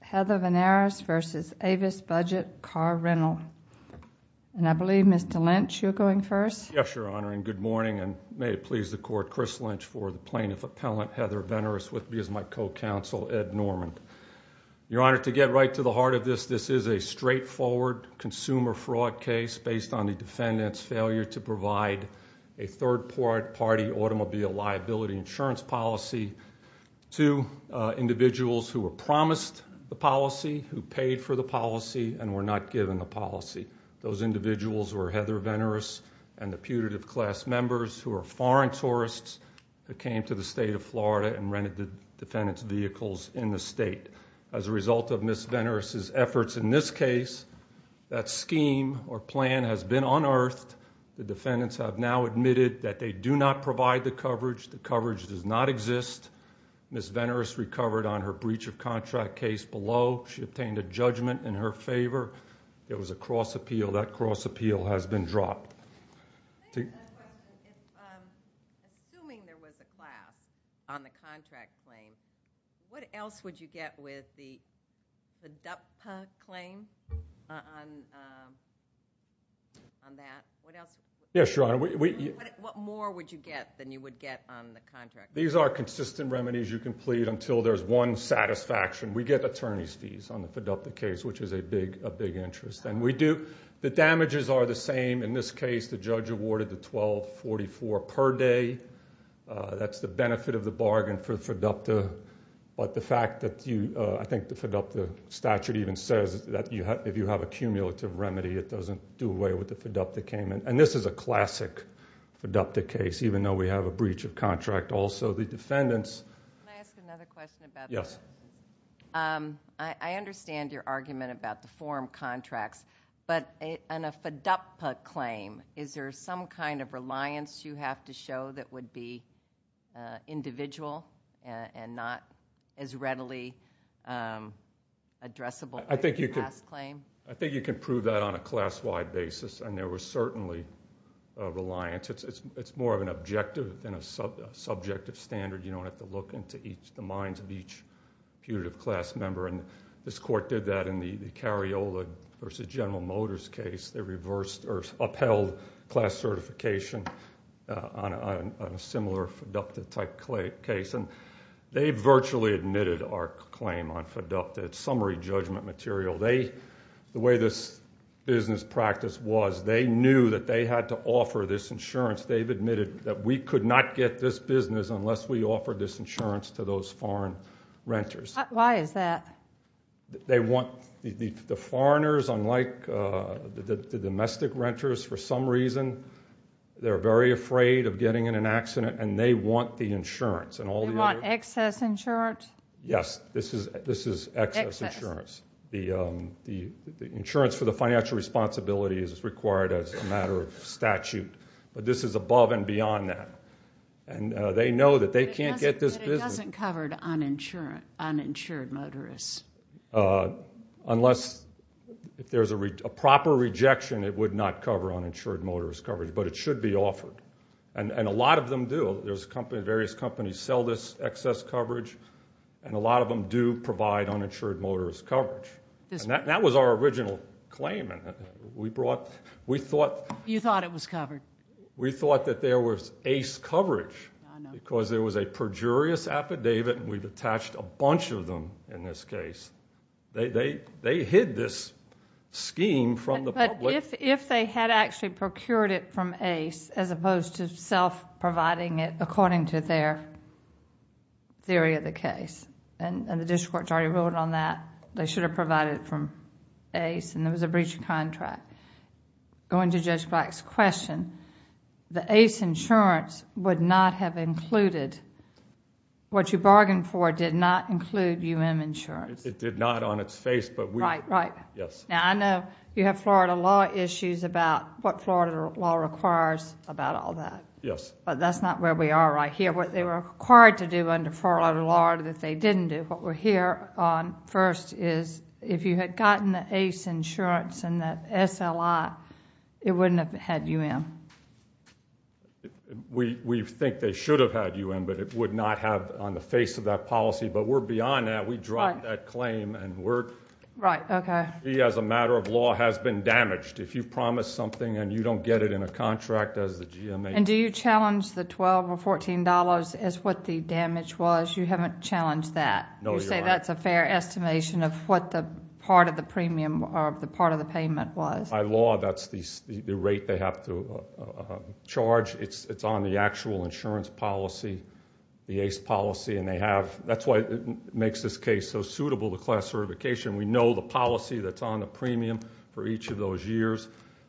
Heather Venerus v. Avis Budget Car Rental. And I believe Mr. Lynch, you're going first? Yes, Your Honor, and good morning. And may it please the Court, Chris Lynch for the Plaintiff Appellant, Heather Venerus. With me is my co-counsel, Ed Norman. Your Honor, to get right to the heart of this, this is a straightforward consumer fraud case based on the defendant's failure to provide a third-party automobile liability insurance policy to individuals who were promised the policy, who paid for the policy, and were not given the policy. Those individuals were Heather Venerus and the putative class members who are foreign tourists who came to the state of Florida and rented the defendant's vehicles in the state. As a result of Ms. Venerus' efforts in this case, that scheme or plan has been unearthed. The defendants have now admitted that they do not provide the coverage. The coverage does not exist. Ms. Venerus recovered on her breach of contract case below. She obtained a judgment in her favor. It was a cross appeal. That cross appeal has been dropped. I have a question. Assuming there was a class on the contract claim, what else would you get with the DUPPA claim on that? Yes, Your Honor. What more would you get than you would get on the contract? These are consistent remedies you can plead until there's one satisfaction. We get attorney's fees on the FIDUPTA case, which is a big interest. The damages are the same. In this case, the judge awarded the $1,244 per day. That's the benefit of the bargain for FIDUPTA. I think the FIDUPTA statute even says that if you have a cumulative remedy, it doesn't do away with the FIDUPTA payment. This is a classic FIDUPTA case, even though we have a breach of contract. Also, the defendants— Can I ask another question about that? Yes. I understand your argument about the form contracts, but on a FIDUPTA claim, is there some kind of reliance you have to show that would be individual and not as readily addressable as a class claim? I think you can prove that on a class-wide basis, and there was certainly a reliance. It's more of an objective than a subjective standard. You don't have to look into the minds of each putative class member. This court did that in the Cariola v. General Motors case. They upheld class certification on a similar FIDUPTA-type case. They virtually admitted our claim on FIDUPTA. It's summary judgment material. The way this business practice was, they knew that they had to offer this insurance. They've admitted that we could not get this business unless we offered this insurance to those foreign renters. Why is that? They want—the foreigners, unlike the domestic renters, for some reason, they're very afraid of getting in an accident, and they want the insurance. They want excess insurance? Yes, this is excess insurance. The insurance for the financial responsibility is required as a matter of statute, but this is above and beyond that. They know that they can't get this business— But it doesn't cover uninsured motorists. Unless there's a proper rejection, it would not cover uninsured motorist coverage, but it should be offered. And a lot of them do. Various companies sell this excess coverage, and a lot of them do provide uninsured motorist coverage. That was our original claim. We thought— You thought it was covered. We thought that there was ACE coverage because there was a perjurious affidavit, and we've attached a bunch of them in this case. They hid this scheme from the public. If they had actually procured it from ACE as opposed to self-providing it, according to their theory of the case, and the district court's already ruled on that, they should have provided it from ACE, and there was a breach of contract. Going to Judge Black's question, the ACE insurance would not have included— what you bargained for did not include UM insurance. It did not on its face, but we— Right, right. Yes. Now, I know you have Florida law issues about what Florida law requires about all that. Yes. But that's not where we are right here. What they were required to do under Florida law that they didn't do. What we're here on first is if you had gotten the ACE insurance and the SLI, it wouldn't have had UM. We think they should have had UM, but it would not have on the face of that policy. But we're beyond that. We dropped that claim, and we're— Right, okay. We, as a matter of law, has been damaged. If you promise something and you don't get it in a contract, as the GMA— And do you challenge the $12 or $14 as what the damage was? You haven't challenged that. No, you're right. You say that's a fair estimation of what the part of the premium or the part of the payment was. By law, that's the rate they have to charge. It's on the actual insurance policy, the ACE policy, and they have— that's why it makes this case so suitable to class certification. We know the policy that's on the premium for each of those years.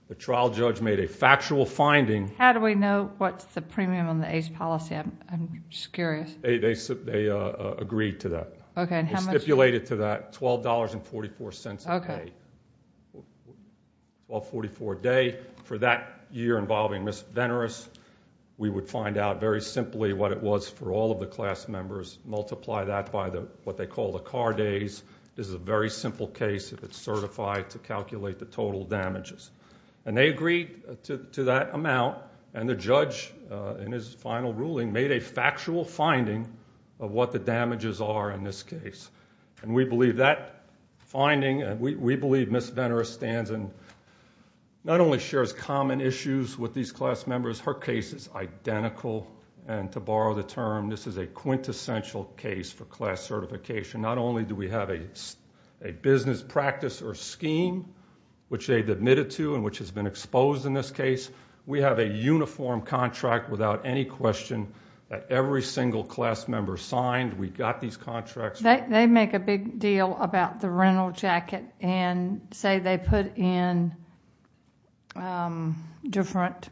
The trial judge made a factual finding— How do we know what's the premium on the ACE policy? I'm just curious. They agreed to that. Okay, and how much— They stipulated to that $12.44 a day. Okay. $12.44 a day for that year involving Ms. Venneris. We would find out very simply what it was for all of the class members, multiply that by what they call the car days. This is a very simple case if it's certified to calculate the total damages. And they agreed to that amount, and the judge, in his final ruling, made a factual finding of what the damages are in this case. And we believe that finding— we believe Ms. Venneris stands and not only shares common issues with these class members, her case is identical, and to borrow the term, this is a quintessential case for class certification. Not only do we have a business practice or scheme which they've admitted to and which has been exposed in this case, we have a uniform contract without any question that every single class member signed. We've got these contracts. They make a big deal about the rental jacket and say they put in different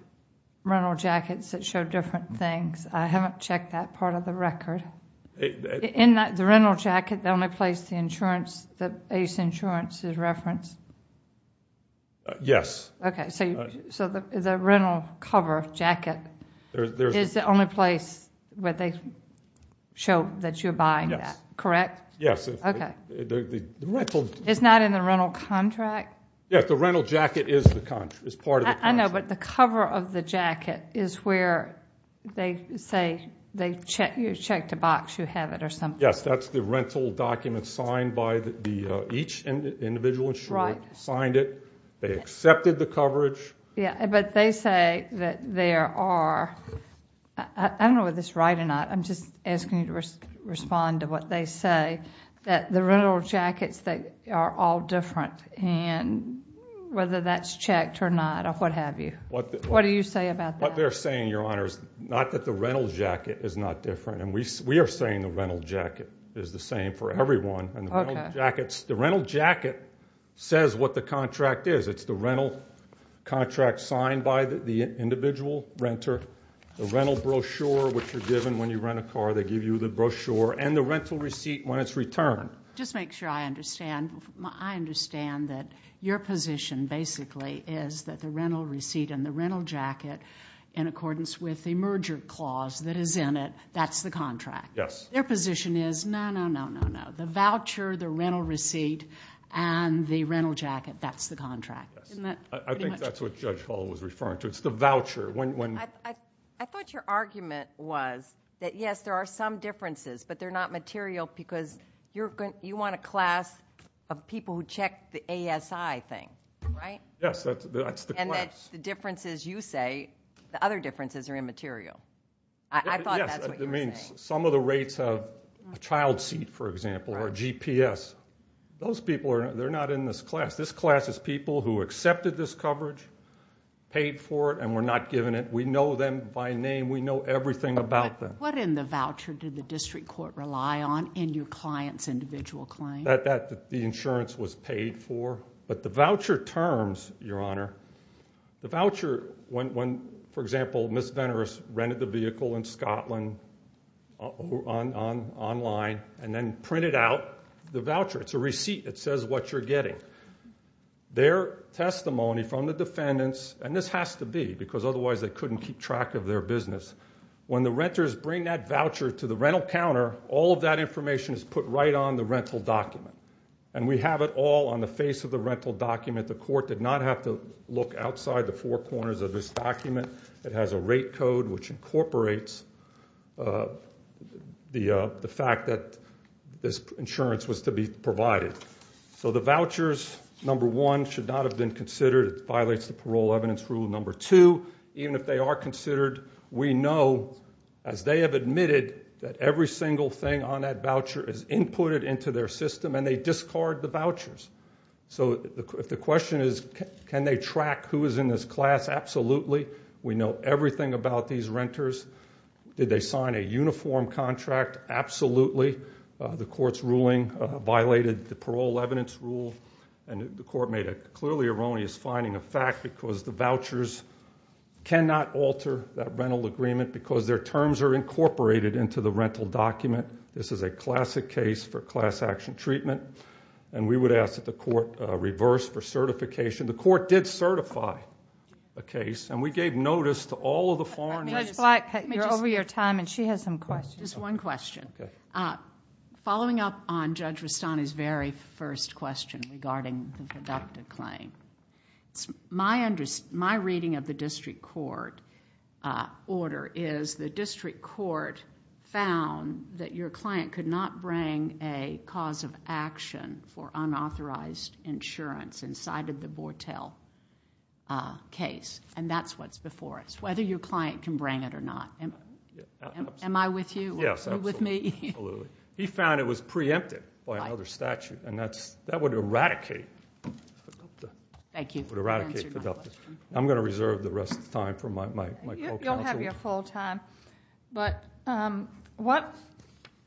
rental jackets that show different things. I haven't checked that part of the record. In the rental jacket, the only place the insurance, the ACE insurance is referenced? Yes. Okay. So the rental cover jacket is the only place where they show that you're buying that, correct? Yes. Okay. It's not in the rental contract? Yes, the rental jacket is part of the contract. I know, but the cover of the jacket is where they say you checked a box, you have it or something. Yes, that's the rental document signed by each individual insurer, signed it. They accepted the coverage. Yeah, but they say that there are—I don't know if this is right or not. I'm just asking you to respond to what they say, that the rental jackets are all different, and whether that's checked or not or what have you. What do you say about that? What they're saying, Your Honor, is not that the rental jacket is not different. We are saying the rental jacket is the same for everyone. Okay. The rental jacket says what the contract is. It's the rental contract signed by the individual renter, the rental brochure which you're given when you rent a car, they give you the brochure, and the rental receipt when it's returned. Just make sure I understand. I understand that your position basically is that the rental receipt and the rental jacket, in accordance with the merger clause that is in it, that's the contract. Yes. Their position is, no, no, no, no, no. The voucher, the rental receipt, and the rental jacket, that's the contract. I think that's what Judge Hall was referring to. It's the voucher. I thought your argument was that, yes, there are some differences, but they're not material because you want a class of people who check the ASI thing, right? Yes, that's the class. And that the differences you say, the other differences are immaterial. I thought that's what you were saying. Yes. Some of the rates of a child seat, for example, or a GPS, those people are not in this class. This class is people who accepted this coverage, paid for it, and were not given it. We know them by name. We know everything about them. What in the voucher did the district court rely on in your client's individual claim? That the insurance was paid for. But the voucher terms, Your Honor, the voucher when, for example, Ms. Veneris rented the vehicle in Scotland online and then printed out the voucher. It's a receipt that says what you're getting. Their testimony from the defendants, and this has to be because otherwise they couldn't keep track of their business. When the renters bring that voucher to the rental counter, all of that information is put right on the rental document. And we have it all on the face of the rental document. The court did not have to look outside the four corners of this document. It has a rate code which incorporates the fact that this insurance was to be provided. So the vouchers, number one, should not have been considered. It violates the parole evidence rule. Number two, even if they are considered, we know, as they have admitted, that every single thing on that voucher is inputted into their system and they discard the vouchers. So if the question is can they track who is in this class, absolutely. We know everything about these renters. Did they sign a uniform contract? Absolutely. The court's ruling violated the parole evidence rule. And the court made a clearly erroneous finding of fact because the vouchers cannot alter that rental agreement because their terms are incorporated into the rental document. This is a classic case for class action treatment. And we would ask that the court reverse for certification. The court did certify a case, and we gave notice to all of the foreign agents. Judge Black, you're over your time, and she has some questions. Just one question. Following up on Judge Rustani's very first question regarding the deductive claim, my reading of the district court order is the district court found that your client could not bring a cause of action for unauthorized insurance inside of the Bortel case, and that's what's before us, whether your client can bring it or not. Am I with you? Yes, absolutely. You with me? Absolutely. He found it was preempted by another statute, and that would eradicate the deductive. Thank you for answering my question. I'm going to reserve the rest of the time for my co-counsel. You'll have your full time. But what,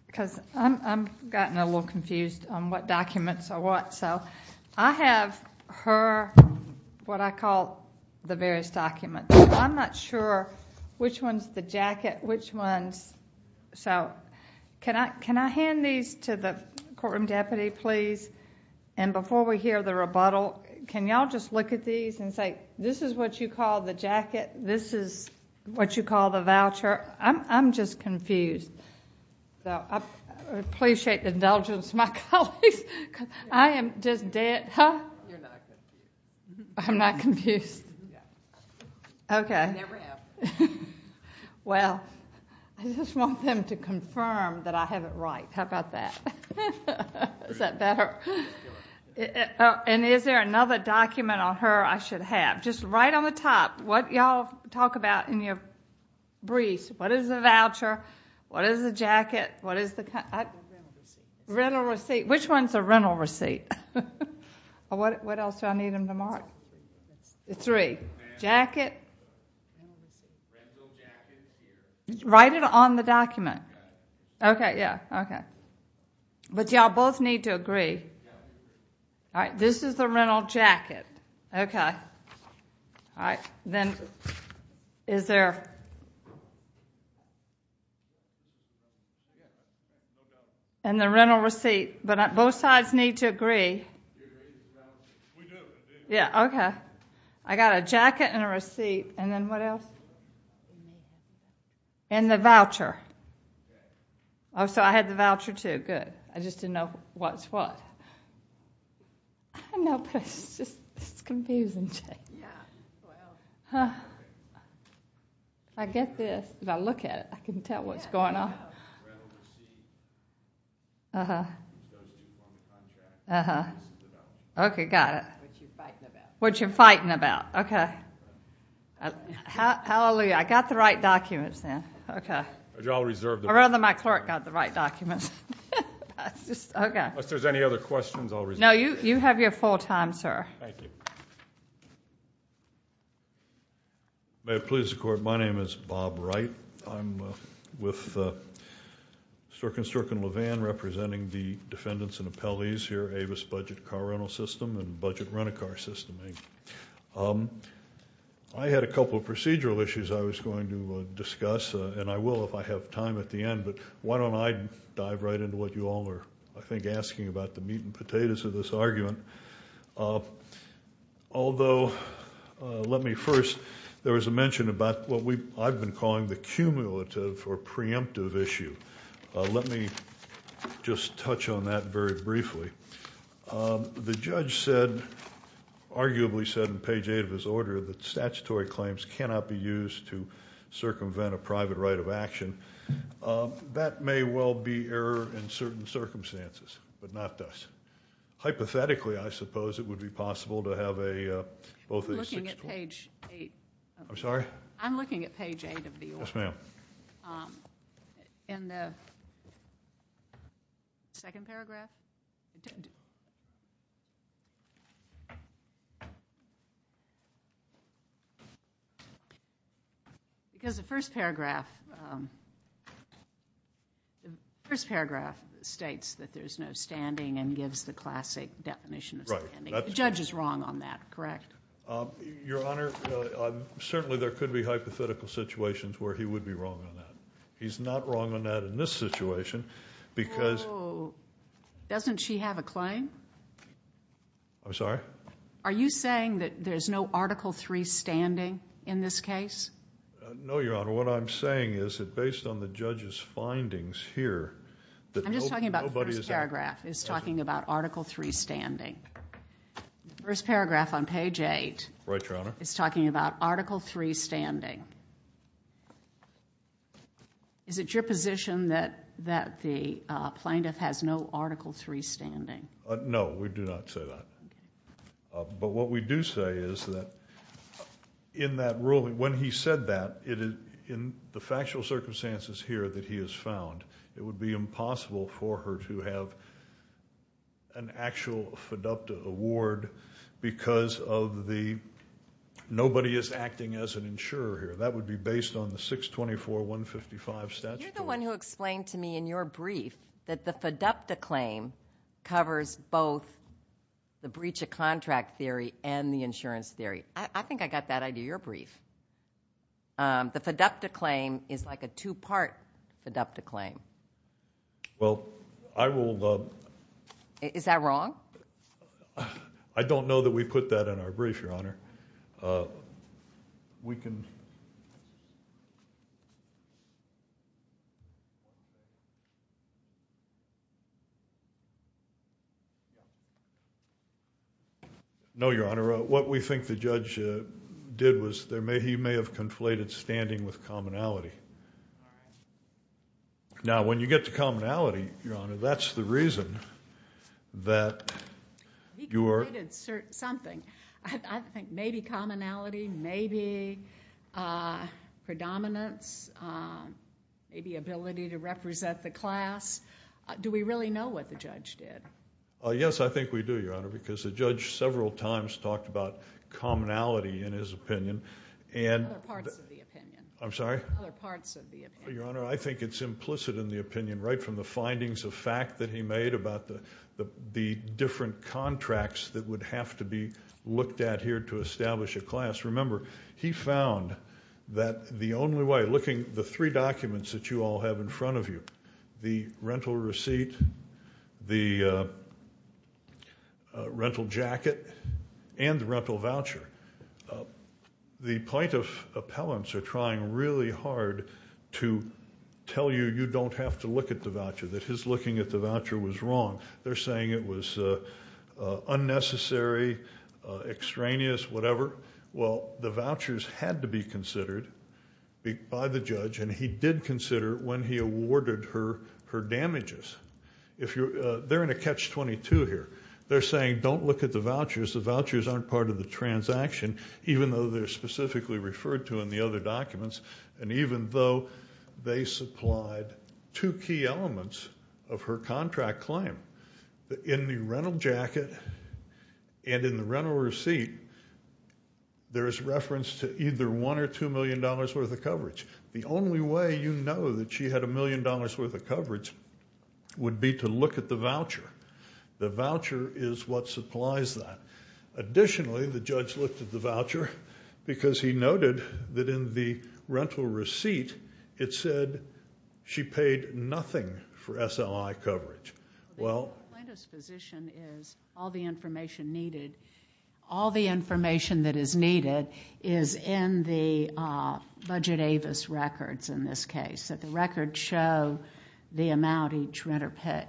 because I've gotten a little confused on what documents are what, so I have her what I call the various documents. I'm not sure which one's the jacket, which one's... Can I hand these to the courtroom deputy, please? Before we hear the rebuttal, can you all just look at these and say, this is what you call the jacket, this is what you call the voucher? I'm just confused. I appreciate the indulgence of my colleagues. I am just dead. You're not confused. I'm not confused. Okay. Never have. Well, I just want them to confirm that I have it right. How about that? Is that better? And is there another document on her I should have? Just right on the top, what you all talk about in your briefs. What is a voucher? What is a jacket? What is the... Rental receipt. Which one's a rental receipt? What else do I need them to mark? Three. Jacket. Write it on the document. Okay, yeah, okay. But you all both need to agree. This is the rental jacket. Okay. Then is there... And the rental receipt. But both sides need to agree. Yeah, okay. I got a jacket and a receipt. And then what else? And the voucher. Oh, so I had the voucher, too. Good. I just didn't know what's what. I know, but it's just confusing. I get this. If I look at it, I can tell what's going on. Okay, got it. What you're fighting about. What you're fighting about. Okay. Hallelujah. I got the right documents then. Okay. Or rather my clerk got the right documents. Okay. Unless there's any other questions, I'll... No, you have your full time, sir. Thank you. May it please the court, my name is Bob Wright. I'm with Stork & Stork & Levan representing the defendants and appellees here, Avis Budget Car Rental System and Budget Rent-A-Car System Inc. I had a couple of procedural issues I was going to discuss, and I will if I have time at the end. But why don't I dive right into what you all are, I think, asking about the meat and potatoes of this argument. Although let me first... There was a mention about what I've been calling the cumulative or preemptive issue. Let me just touch on that very briefly. The judge said, arguably said in page 8 of his order, that statutory claims cannot be used to circumvent a private right of action. That may well be error in certain circumstances, but not thus. Hypothetically, I suppose it would be possible to have a... I'm looking at page 8. I'm sorry? I'm looking at page 8 of the order. Yes, ma'am. In the second paragraph? Because the first paragraph states that there's no standing and gives the classic definition of standing. The judge is wrong on that, correct? Your Honor, certainly there could be hypothetical situations where he would be wrong on that. He's not wrong on that in this situation because... So doesn't she have a claim? I'm sorry? Are you saying that there's no Article III standing in this case? No, Your Honor. What I'm saying is that based on the judge's findings here... I'm just talking about the first paragraph is talking about Article III standing. The first paragraph on page 8... Right, Your Honor.... is talking about Article III standing. Is it your position that the plaintiff has no Article III standing? No, we do not say that. But what we do say is that in that ruling, when he said that, in the factual circumstances here that he has found, it would be impossible for her to have an actual fiducta award because nobody is acting as an insurer here. That would be based on the 624.155 statute. You're the one who explained to me in your brief that the fiducta claim covers both the breach of contract theory and the insurance theory. I think I got that idea. Your brief. The fiducta claim is like a two-part fiducta claim. Well, I will... Is that wrong? I don't know that we put that in our brief, Your Honor. We can... No, Your Honor. What we think the judge did was he may have conflated standing with commonality. Now, when you get to commonality, Your Honor, that's the reason that you are... He conflated something. I think maybe commonality, maybe predominance, maybe ability to represent the class. Do we really know what the judge did? Yes, I think we do, Your Honor, because the judge several times talked about commonality in his opinion. Other parts of the opinion. I'm sorry? Other parts of the opinion. Your Honor, I think it's implicit in the opinion, right from the findings of fact that he made about the different contracts that would have to be looked at here to establish a class. Remember, he found that the only way... Looking at the three documents that you all have in front of you, the rental receipt, the rental jacket, and the rental voucher, the plaintiff appellants are trying really hard to tell you you don't have to look at the voucher, that his looking at the voucher was wrong. They're saying it was unnecessary, extraneous, whatever. Well, the vouchers had to be considered by the judge, and he did consider when he awarded her her damages. They're in a catch-22 here. They're saying don't look at the vouchers. The vouchers aren't part of the transaction, even though they're specifically referred to in the other documents, and even though they supplied two key elements of her contract claim. In the rental jacket and in the rental receipt, there is reference to either $1 million or $2 million worth of coverage. The only way you know that she had $1 million worth of coverage would be to look at the voucher. The voucher is what supplies that. Additionally, the judge looked at the voucher because he noted that in the rental receipt, it said she paid nothing for SLI coverage. The plaintiff's position is all the information that is needed is in the Budget Avis records in this case, that the records show the amount each renter paid.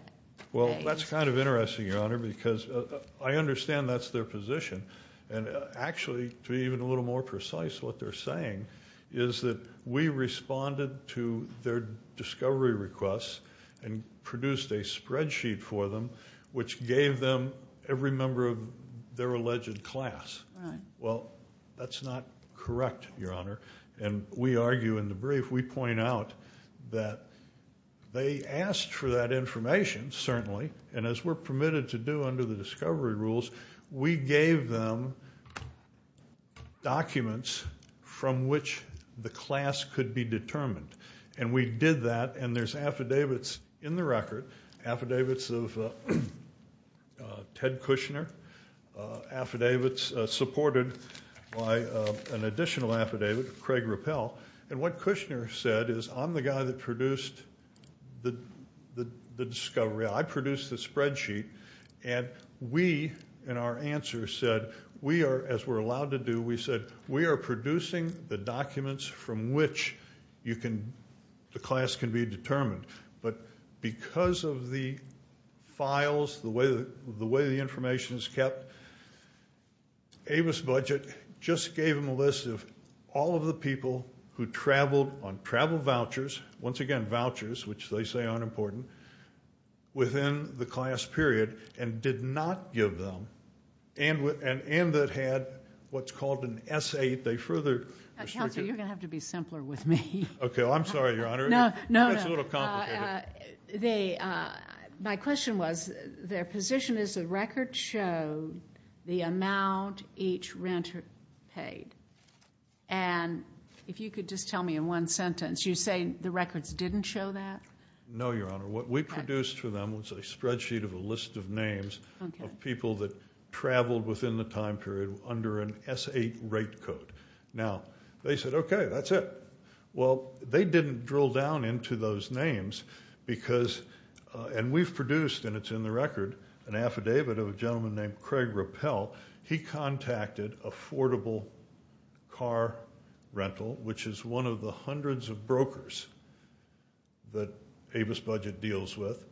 Well, that's kind of interesting, Your Honor, because I understand that's their position. Actually, to be even a little more precise, what they're saying is that we responded to their discovery requests and produced a spreadsheet for them, which gave them every member of their alleged class. Well, that's not correct, Your Honor, and we argue in the brief. We point out that they asked for that information, certainly, and as we're permitted to do under the discovery rules, we gave them documents from which the class could be determined, and we did that, and there's affidavits in the record, affidavits of Ted Kushner, affidavits supported by an additional affidavit of Craig Rappel, and what Kushner said is, I'm the guy that produced the discovery. I produced the spreadsheet, and we, in our answer, said, as we're allowed to do, we said, we are producing the documents from which the class can be determined. But because of the files, the way the information is kept, Avis Budget just gave them a list of all of the people who traveled on travel vouchers, once again, vouchers, which they say aren't important, within the class period, and did not give them, and that had what's called an S-8, they further restricted. Counselor, you're going to have to be simpler with me. Okay, well, I'm sorry, Your Honor. No, no. That's a little complicated. My question was, their position is the record showed the amount each renter paid, and if you could just tell me in one sentence, you're saying the records didn't show that? No, Your Honor. What we produced for them was a spreadsheet of a list of names of people that traveled within the time period under an S-8 rate code. Now, they said, okay, that's it. Well, they didn't drill down into those names because, and we've produced, and it's in the record, an affidavit of a gentleman named Craig Rappel. He contacted Affordable Car Rental, which is one of the hundreds of brokers that Avis Budget deals with,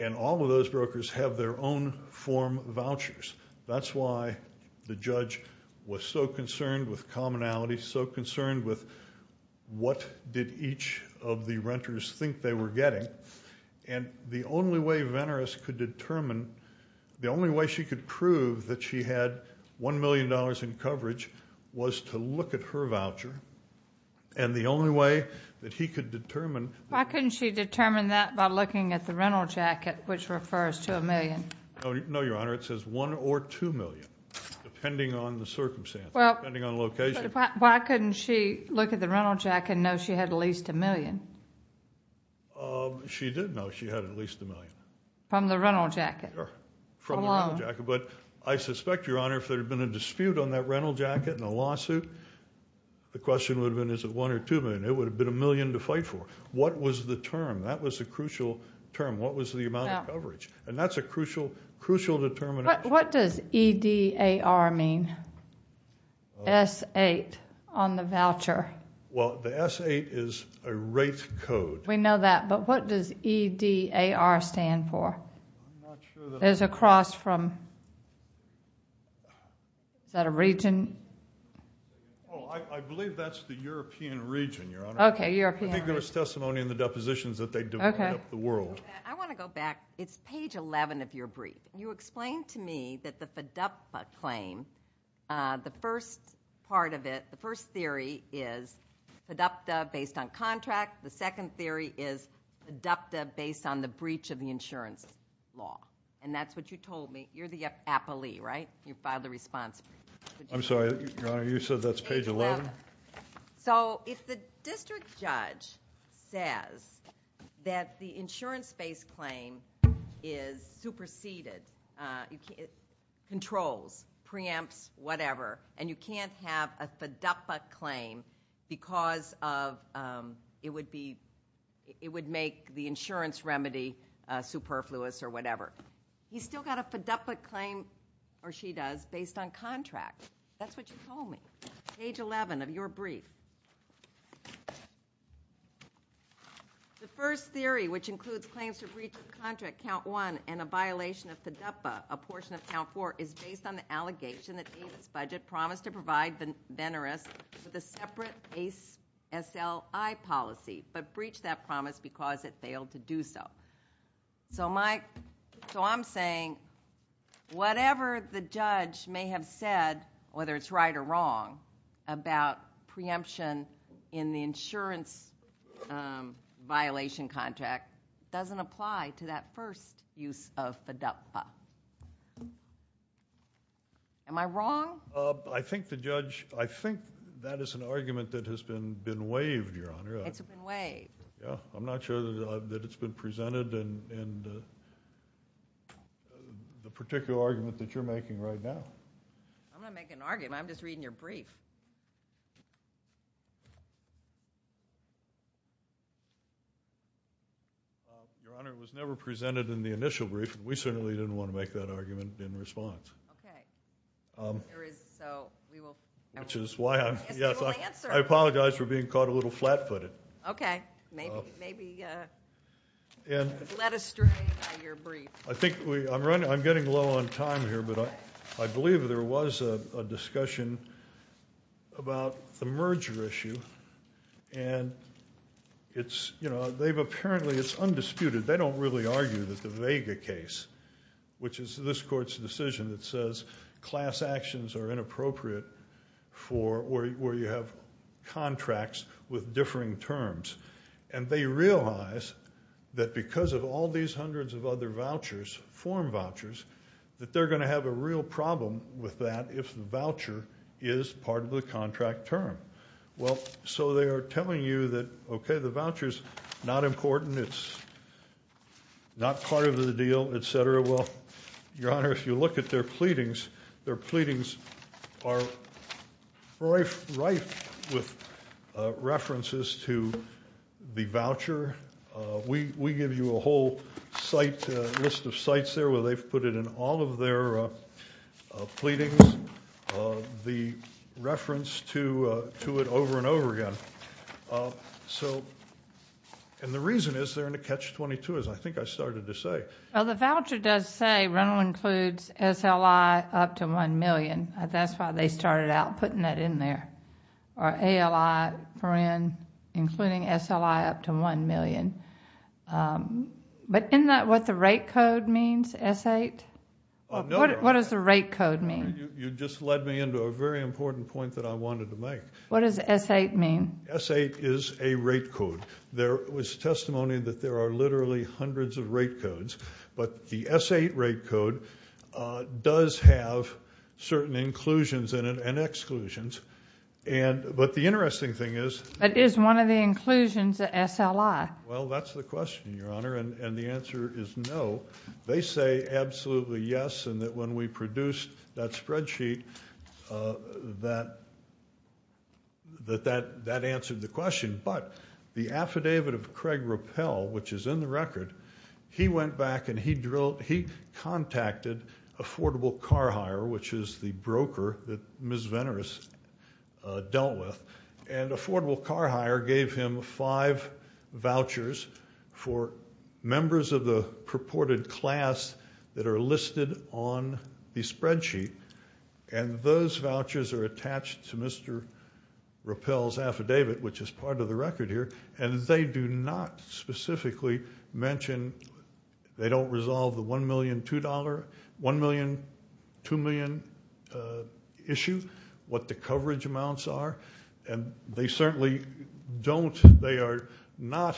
and all of those brokers have their own form vouchers. That's why the judge was so concerned with commonality, so concerned with what did each of the renters think they were getting, and the only way Veneris could determine, the only way she could prove that she had $1 million in coverage was to look at her voucher, and the only way that he could determine. Why couldn't she determine that by looking at the rental jacket, which refers to $1 million? No, Your Honor. It says $1 or $2 million, depending on the circumstance, depending on location. Why couldn't she look at the rental jacket and know she had at least $1 million? She did know she had at least $1 million. From the rental jacket? From the rental jacket, but I suspect, Your Honor, if there had been a dispute on that rental jacket and a lawsuit, the question would have been, is it $1 or $2 million? It would have been $1 million to fight for. What was the term? That was the crucial term. What was the amount of coverage? That's a crucial determination. What does E-D-A-R mean? S-8 on the voucher. Well, the S-8 is a rate code. We know that, but what does E-D-A-R stand for? There's a cross from, is that a region? I believe that's the European region, Your Honor. Okay, European. I think there was testimony in the depositions that they divided up the world. I want to go back. It's page 11 of your brief. You explained to me that the FIDAPTA claim, the first part of it, the first theory is FIDAPTA based on contract. The second theory is FIDAPTA based on the breach of the insurance law. That's what you told me. You're the appellee, right? You filed the response brief. I'm sorry, Your Honor. You said that's page 11? If the district judge says that the insurance-based claim is superseded, controls, preempts, whatever, and you can't have a FIDAPTA claim because it would make the insurance remedy superfluous or whatever, he's still got a FIDAPTA claim, or she does, based on contract. That's what you told me. Page 11 of your brief. The first theory, which includes claims to breach of contract, count one, and a violation of FIDAPTA, a portion of count four, is based on the allegation that David's budget promised to provide Veneris with a separate SLI policy, but breached that promise because it failed to do so. So I'm saying whatever the judge may have said, whether it's right or wrong, about preemption in the insurance violation contract doesn't apply to that first use of FIDAPTA. Am I wrong? I think that is an argument that has been waived, Your Honor. It's been waived. I'm not sure that it's been presented in the particular argument that you're making right now. I'm not making an argument. I'm just reading your brief. Your Honor, it was never presented in the initial brief. We certainly didn't want to make that argument in response. Which is why I apologize for being caught a little flat-footed. Okay. Maybe led astray by your brief. I'm getting low on time here, but I believe there was a discussion about the merger issue, and apparently it's undisputed. They don't really argue that the Vega case, which is this Court's decision that says class actions are inappropriate where you have contracts with differing terms, and they realize that because of all these hundreds of other vouchers, form vouchers, that they're going to have a real problem with that if the voucher is part of the contract term. Well, so they are telling you that, okay, the voucher is not important, it's not part of the deal, et cetera. Well, Your Honor, if you look at their pleadings, their pleadings are rife with references to the voucher. We give you a whole list of sites there where they've put it in all of their pleadings the reference to it over and over again. And the reason is they're in a catch-22, as I think I started to say. Well, the voucher does say rental includes SLI up to $1 million. That's why they started out putting that in there. Or ALI for in, including SLI up to $1 million. But isn't that what the rate code means, S-8? What does the rate code mean? You just led me into a very important point that I wanted to make. What does S-8 mean? S-8 is a rate code. There was testimony that there are literally hundreds of rate codes, but the S-8 rate code does have certain inclusions and exclusions. But the interesting thing is. But is one of the inclusions an SLI? Well, that's the question, Your Honor, and the answer is no. They say absolutely yes, and that when we produced that spreadsheet, that that answered the question. But the affidavit of Craig Rappel, which is in the record, he went back and he contacted Affordable Car Hire, which is the broker that Ms. Veneris dealt with, and Affordable Car Hire gave him five vouchers for members of the purported class that are listed on the spreadsheet, and those vouchers are attached to Mr. Rappel's affidavit, which is part of the record here, and they do not specifically mention they don't resolve the $1 million, $2 million issue, what the coverage amounts are, and they certainly don't. They are not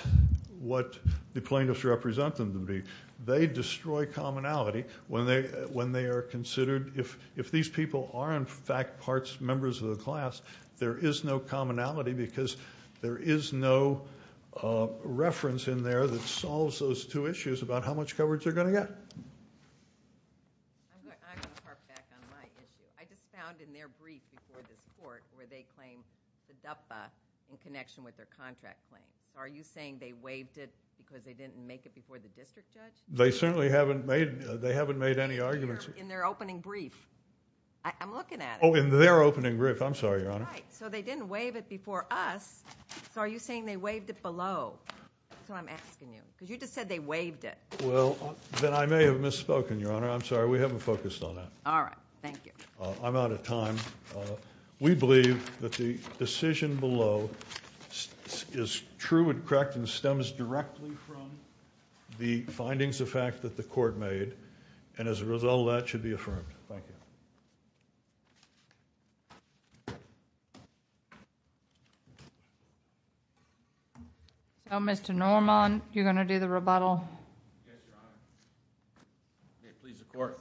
what the plaintiffs represent them to be. They destroy commonality when they are considered. If these people are, in fact, members of the class, there is no commonality because there is no reference in there that solves those two issues about how much coverage they're going to get. I'm going to harp back on my issue. I just found in their brief before this court where they claimed the DUPFA in connection with their contract claim. Are you saying they waived it because they didn't make it before the district judge? They certainly haven't made any arguments. In their opening brief. I'm looking at it. Oh, in their opening brief. I'm sorry, Your Honor. All right. So they didn't waive it before us, so are you saying they waived it below? That's what I'm asking you because you just said they waived it. Well, then I may have misspoken, Your Honor. I'm sorry. We haven't focused on that. All right. Thank you. I'm out of time. We believe that the decision below is true and correct and stems directly from the findings of fact that the court made, and as a result, that should be affirmed. Thank you. Mr. Norman, you're going to do the rebuttal? Yes, Your Honor. Please, the court.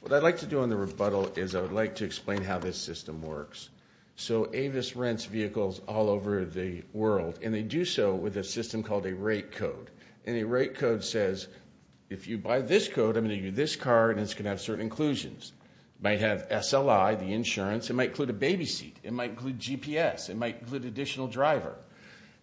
What I'd like to do on the rebuttal is I would like to explain how this system works. So Avis rents vehicles all over the world, and they do so with a system called a rate code. And a rate code says if you buy this code, I'm going to give you this car, and it's going to have certain inclusions. It might have SLI, the insurance. It might include a baby seat. It might include GPS. It might include additional driver.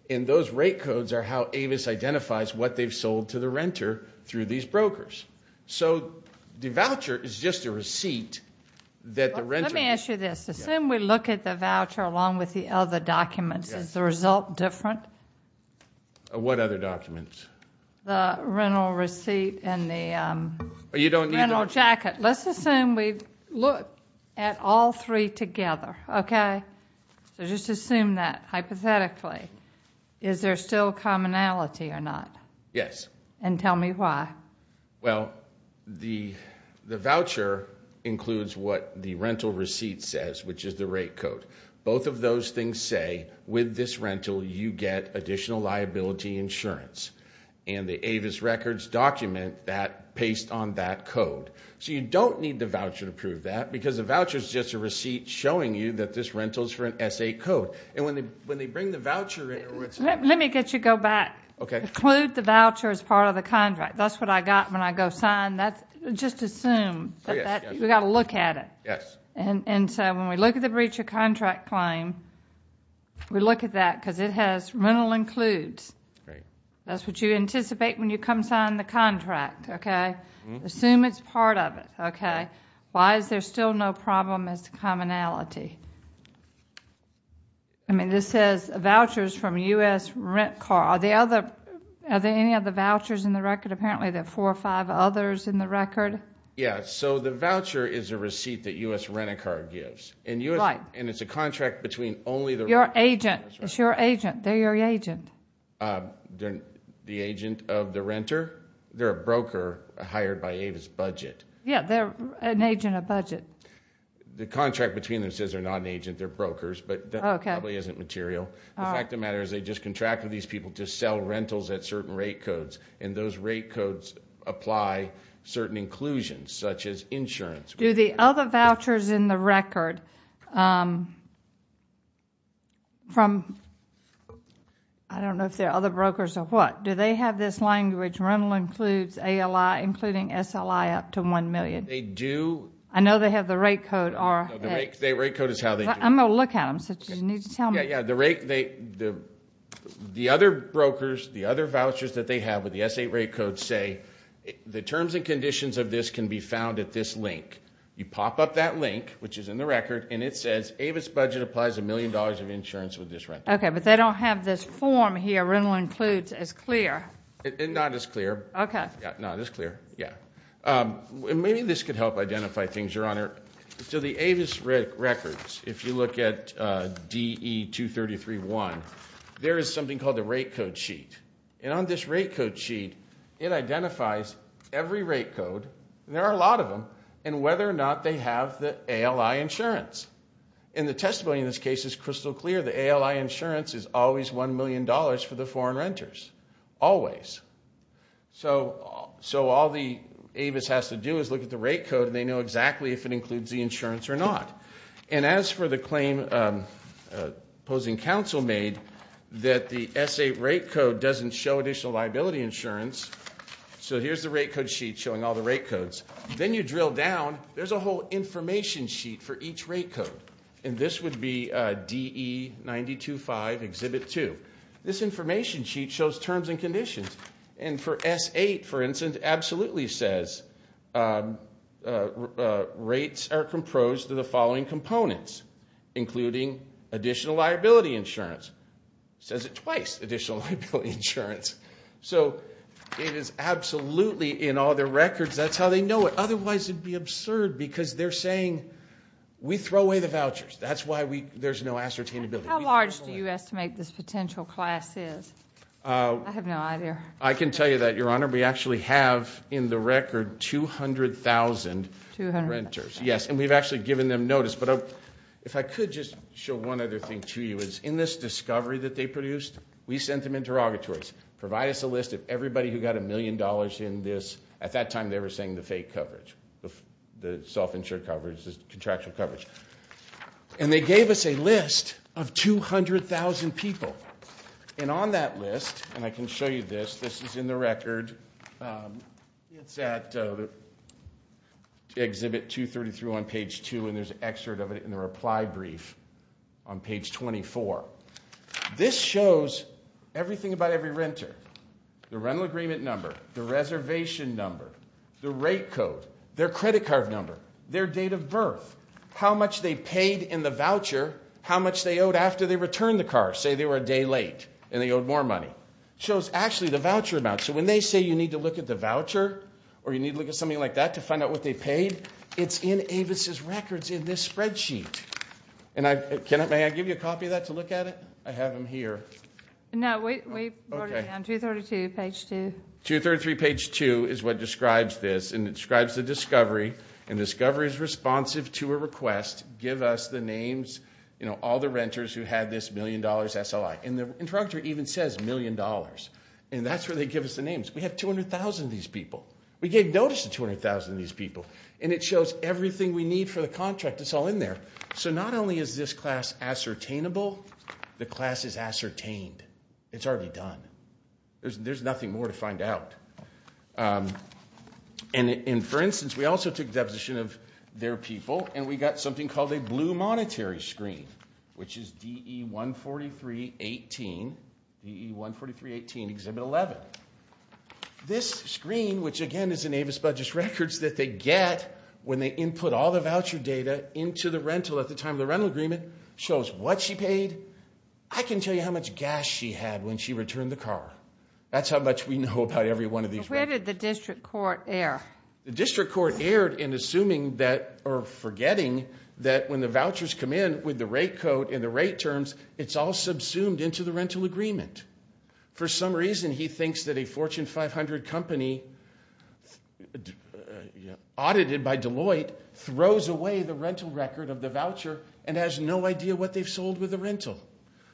And those rate codes are how Avis identifies what they've sold to the renter through these brokers. So the voucher is just a receipt that the renter – Let me ask you this. Assume we look at the voucher along with the other documents. Is the result different? What other documents? The rental receipt and the rental jacket. Let's assume we look at all three together, okay? So just assume that hypothetically. Is there still commonality or not? Yes. And tell me why. Well, the voucher includes what the rental receipt says, which is the rate code. Both of those things say with this rental you get additional liability insurance. And the Avis records document that based on that code. So you don't need the voucher to prove that because the voucher is just a receipt showing you that this rental is for an S.A. code. And when they bring the voucher in – Let me get you to go back. Include the voucher as part of the contract. That's what I got when I go sign. Just assume. We've got to look at it. Yes. And so when we look at the breach of contract claim, we look at that because it has rental includes. Right. That's what you anticipate when you come sign the contract, okay? Assume it's part of it, okay? Why is there still no problem as to commonality? I mean, this says vouchers from U.S. rent car. Are there any other vouchers in the record? Apparently there are four or five others in the record. Yeah. So the voucher is a receipt that U.S. rent a car gives. Right. And it's a contract between only the – Your agent. It's your agent. They're your agent. The agent of the renter? They're a broker hired by Avis budget. Yeah. They're an agent of budget. The contract between them says they're not an agent. They're brokers. Okay. But that probably isn't material. All right. The fact of the matter is they just contracted these people to sell rentals at certain rate codes, and those rate codes apply certain inclusions, such as insurance. Do the other vouchers in the record from – I don't know if they're other brokers or what. Do they have this language, rental includes ALI including SLI up to $1 million? They do. I know they have the rate code. The rate code is how they do it. I'm going to look at them. You need to tell me. Yeah, yeah. The other brokers, the other vouchers that they have with the S8 rate code say, the terms and conditions of this can be found at this link. You pop up that link, which is in the record, and it says Avis budget applies $1 million of insurance with this rental. Okay, but they don't have this form here, rental includes, as clear. Not as clear. Okay. Not as clear, yeah. Maybe this could help identify things, Your Honor. So the Avis records, if you look at DE-233-1, there is something called the rate code sheet. And on this rate code sheet, it identifies every rate code, and there are a lot of them, and whether or not they have the ALI insurance. And the testimony in this case is crystal clear. The ALI insurance is always $1 million for the foreign renters, always. So all the Avis has to do is look at the rate code, and they know exactly if it includes the insurance or not. And as for the claim opposing counsel made, that the S8 rate code doesn't show additional liability insurance, so here's the rate code sheet showing all the rate codes. Then you drill down. There's a whole information sheet for each rate code, and this would be DE-92-5, Exhibit 2. This information sheet shows terms and conditions. And for S8, for instance, it absolutely says rates are composed of the following components, including additional liability insurance. It says it twice, additional liability insurance. So it is absolutely in all their records. That's how they know it. Otherwise, it would be absurd because they're saying, we throw away the vouchers. That's why there's no ascertainability. How large do you estimate this potential class is? I have no idea. I can tell you that, Your Honor, we actually have in the record 200,000 renters. 200,000. Yes, and we've actually given them notice. But if I could just show one other thing to you, is in this discovery that they produced, we sent them interrogatories, provide us a list of everybody who got a million dollars in this. At that time, they were saying the fake coverage, the self-insured coverage, the contractual coverage. And they gave us a list of 200,000 people. And on that list, and I can show you this. This is in the record. It's at Exhibit 233 on page 2, and there's an excerpt of it in the reply brief on page 24. This shows everything about every renter, the rental agreement number, the reservation number, the rate code, their credit card number, their date of birth, how much they paid in the voucher, how much they owed after they returned the car. Say they were a day late and they owed more money. It shows, actually, the voucher amount. So when they say you need to look at the voucher or you need to look at something like that to find out what they paid, it's in Avis's records in this spreadsheet. And may I give you a copy of that to look at it? I have them here. No, we wrote it down, 232, page 2. 233, page 2, is what describes this, and it describes the discovery. And discovery is responsive to a request. Give us the names, you know, all the renters who had this million dollars SLI. And the introductory even says million dollars, and that's where they give us the names. We have 200,000 of these people. We gave notice to 200,000 of these people, and it shows everything we need for the contract that's all in there. So not only is this class ascertainable, the class is ascertained. It's already done. There's nothing more to find out. And for instance, we also took a deposition of their people, and we got something called a blue monetary screen, which is DE-143-18, DE-143-18, Exhibit 11. This screen, which, again, is in Avis Budgets records, that they get when they input all the voucher data into the rental at the time of the rental agreement, shows what she paid. I can tell you how much gas she had when she returned the car. That's how much we know about every one of these. So where did the district court err? The district court erred in assuming that or forgetting that when the vouchers come in with the rate code and the rate terms, it's all subsumed into the rental agreement. For some reason, he thinks that a Fortune 500 company audited by Deloitte throws away the rental record of the voucher and has no idea what they've sold with the rental,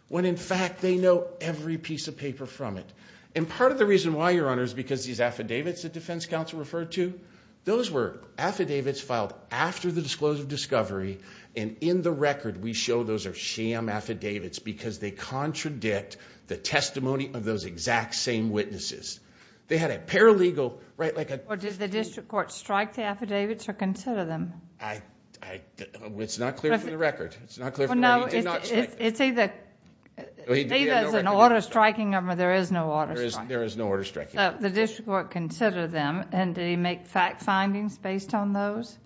when in fact they know every piece of paper from it. And part of the reason why, Your Honor, is because these affidavits that the defense counsel referred to, those were affidavits filed after the disclosure of discovery, and in the record we show those are sham affidavits because they contradict the testimony of those exact same witnesses. They had a paralegal, right, like a... Or did the district court strike the affidavits or consider them? It's not clear from the record. It's not clear from the record. It's either there's an order striking them or there is no order striking them. There is no order striking them. The district court considered them. And did he make fact findings based on those?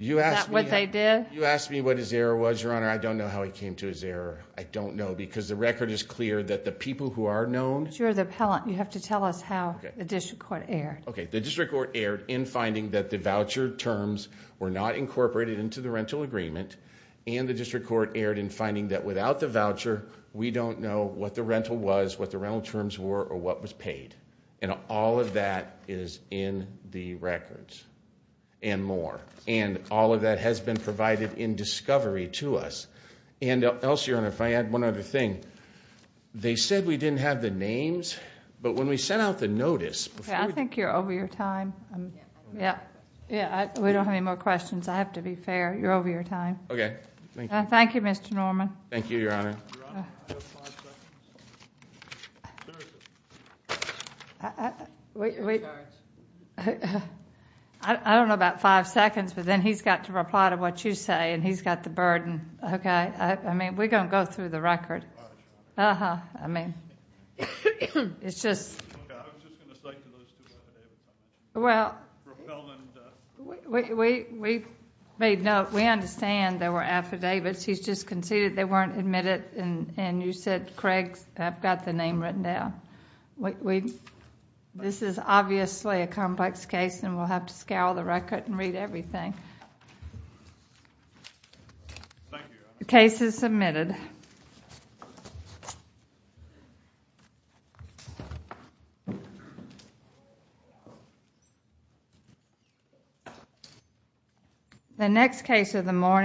Is that what they did? You asked me what his error was, Your Honor. I don't know how he came to his error. I don't know because the record is clear that the people who are known... But you're the appellant. You have to tell us how the district court erred. Okay. The district court erred in finding that the voucher terms were not incorporated into the rental agreement and the district court erred in finding that without the voucher, we don't know what the rental was, what the rental terms were, or what was paid. And all of that is in the records and more. And all of that has been provided in discovery to us. And else, Your Honor, if I add one other thing, they said we didn't have the names, but when we sent out the notice... I think you're over your time. Yeah. We don't have any more questions. I have to be fair. You're over your time. Okay. Thank you. Thank you, Mr. Norman. Thank you, Your Honor. Thank you, Your Honor. I have five seconds. Seriously. We... I don't know about five seconds, but then he's got to reply to what you say and he's got the burden. Okay. I mean, we're going to go through the record. Uh-huh. I mean, it's just... Okay. I'm just going to cite those two affidavits. Well... Appellant... We made note. We understand there were affidavits. He's just conceded they weren't admitted and you said Craig's... I've got the name written down. We... This is obviously a complex case and we'll have to scale the record and read everything. Thank you, Your Honor. The next case of the morning...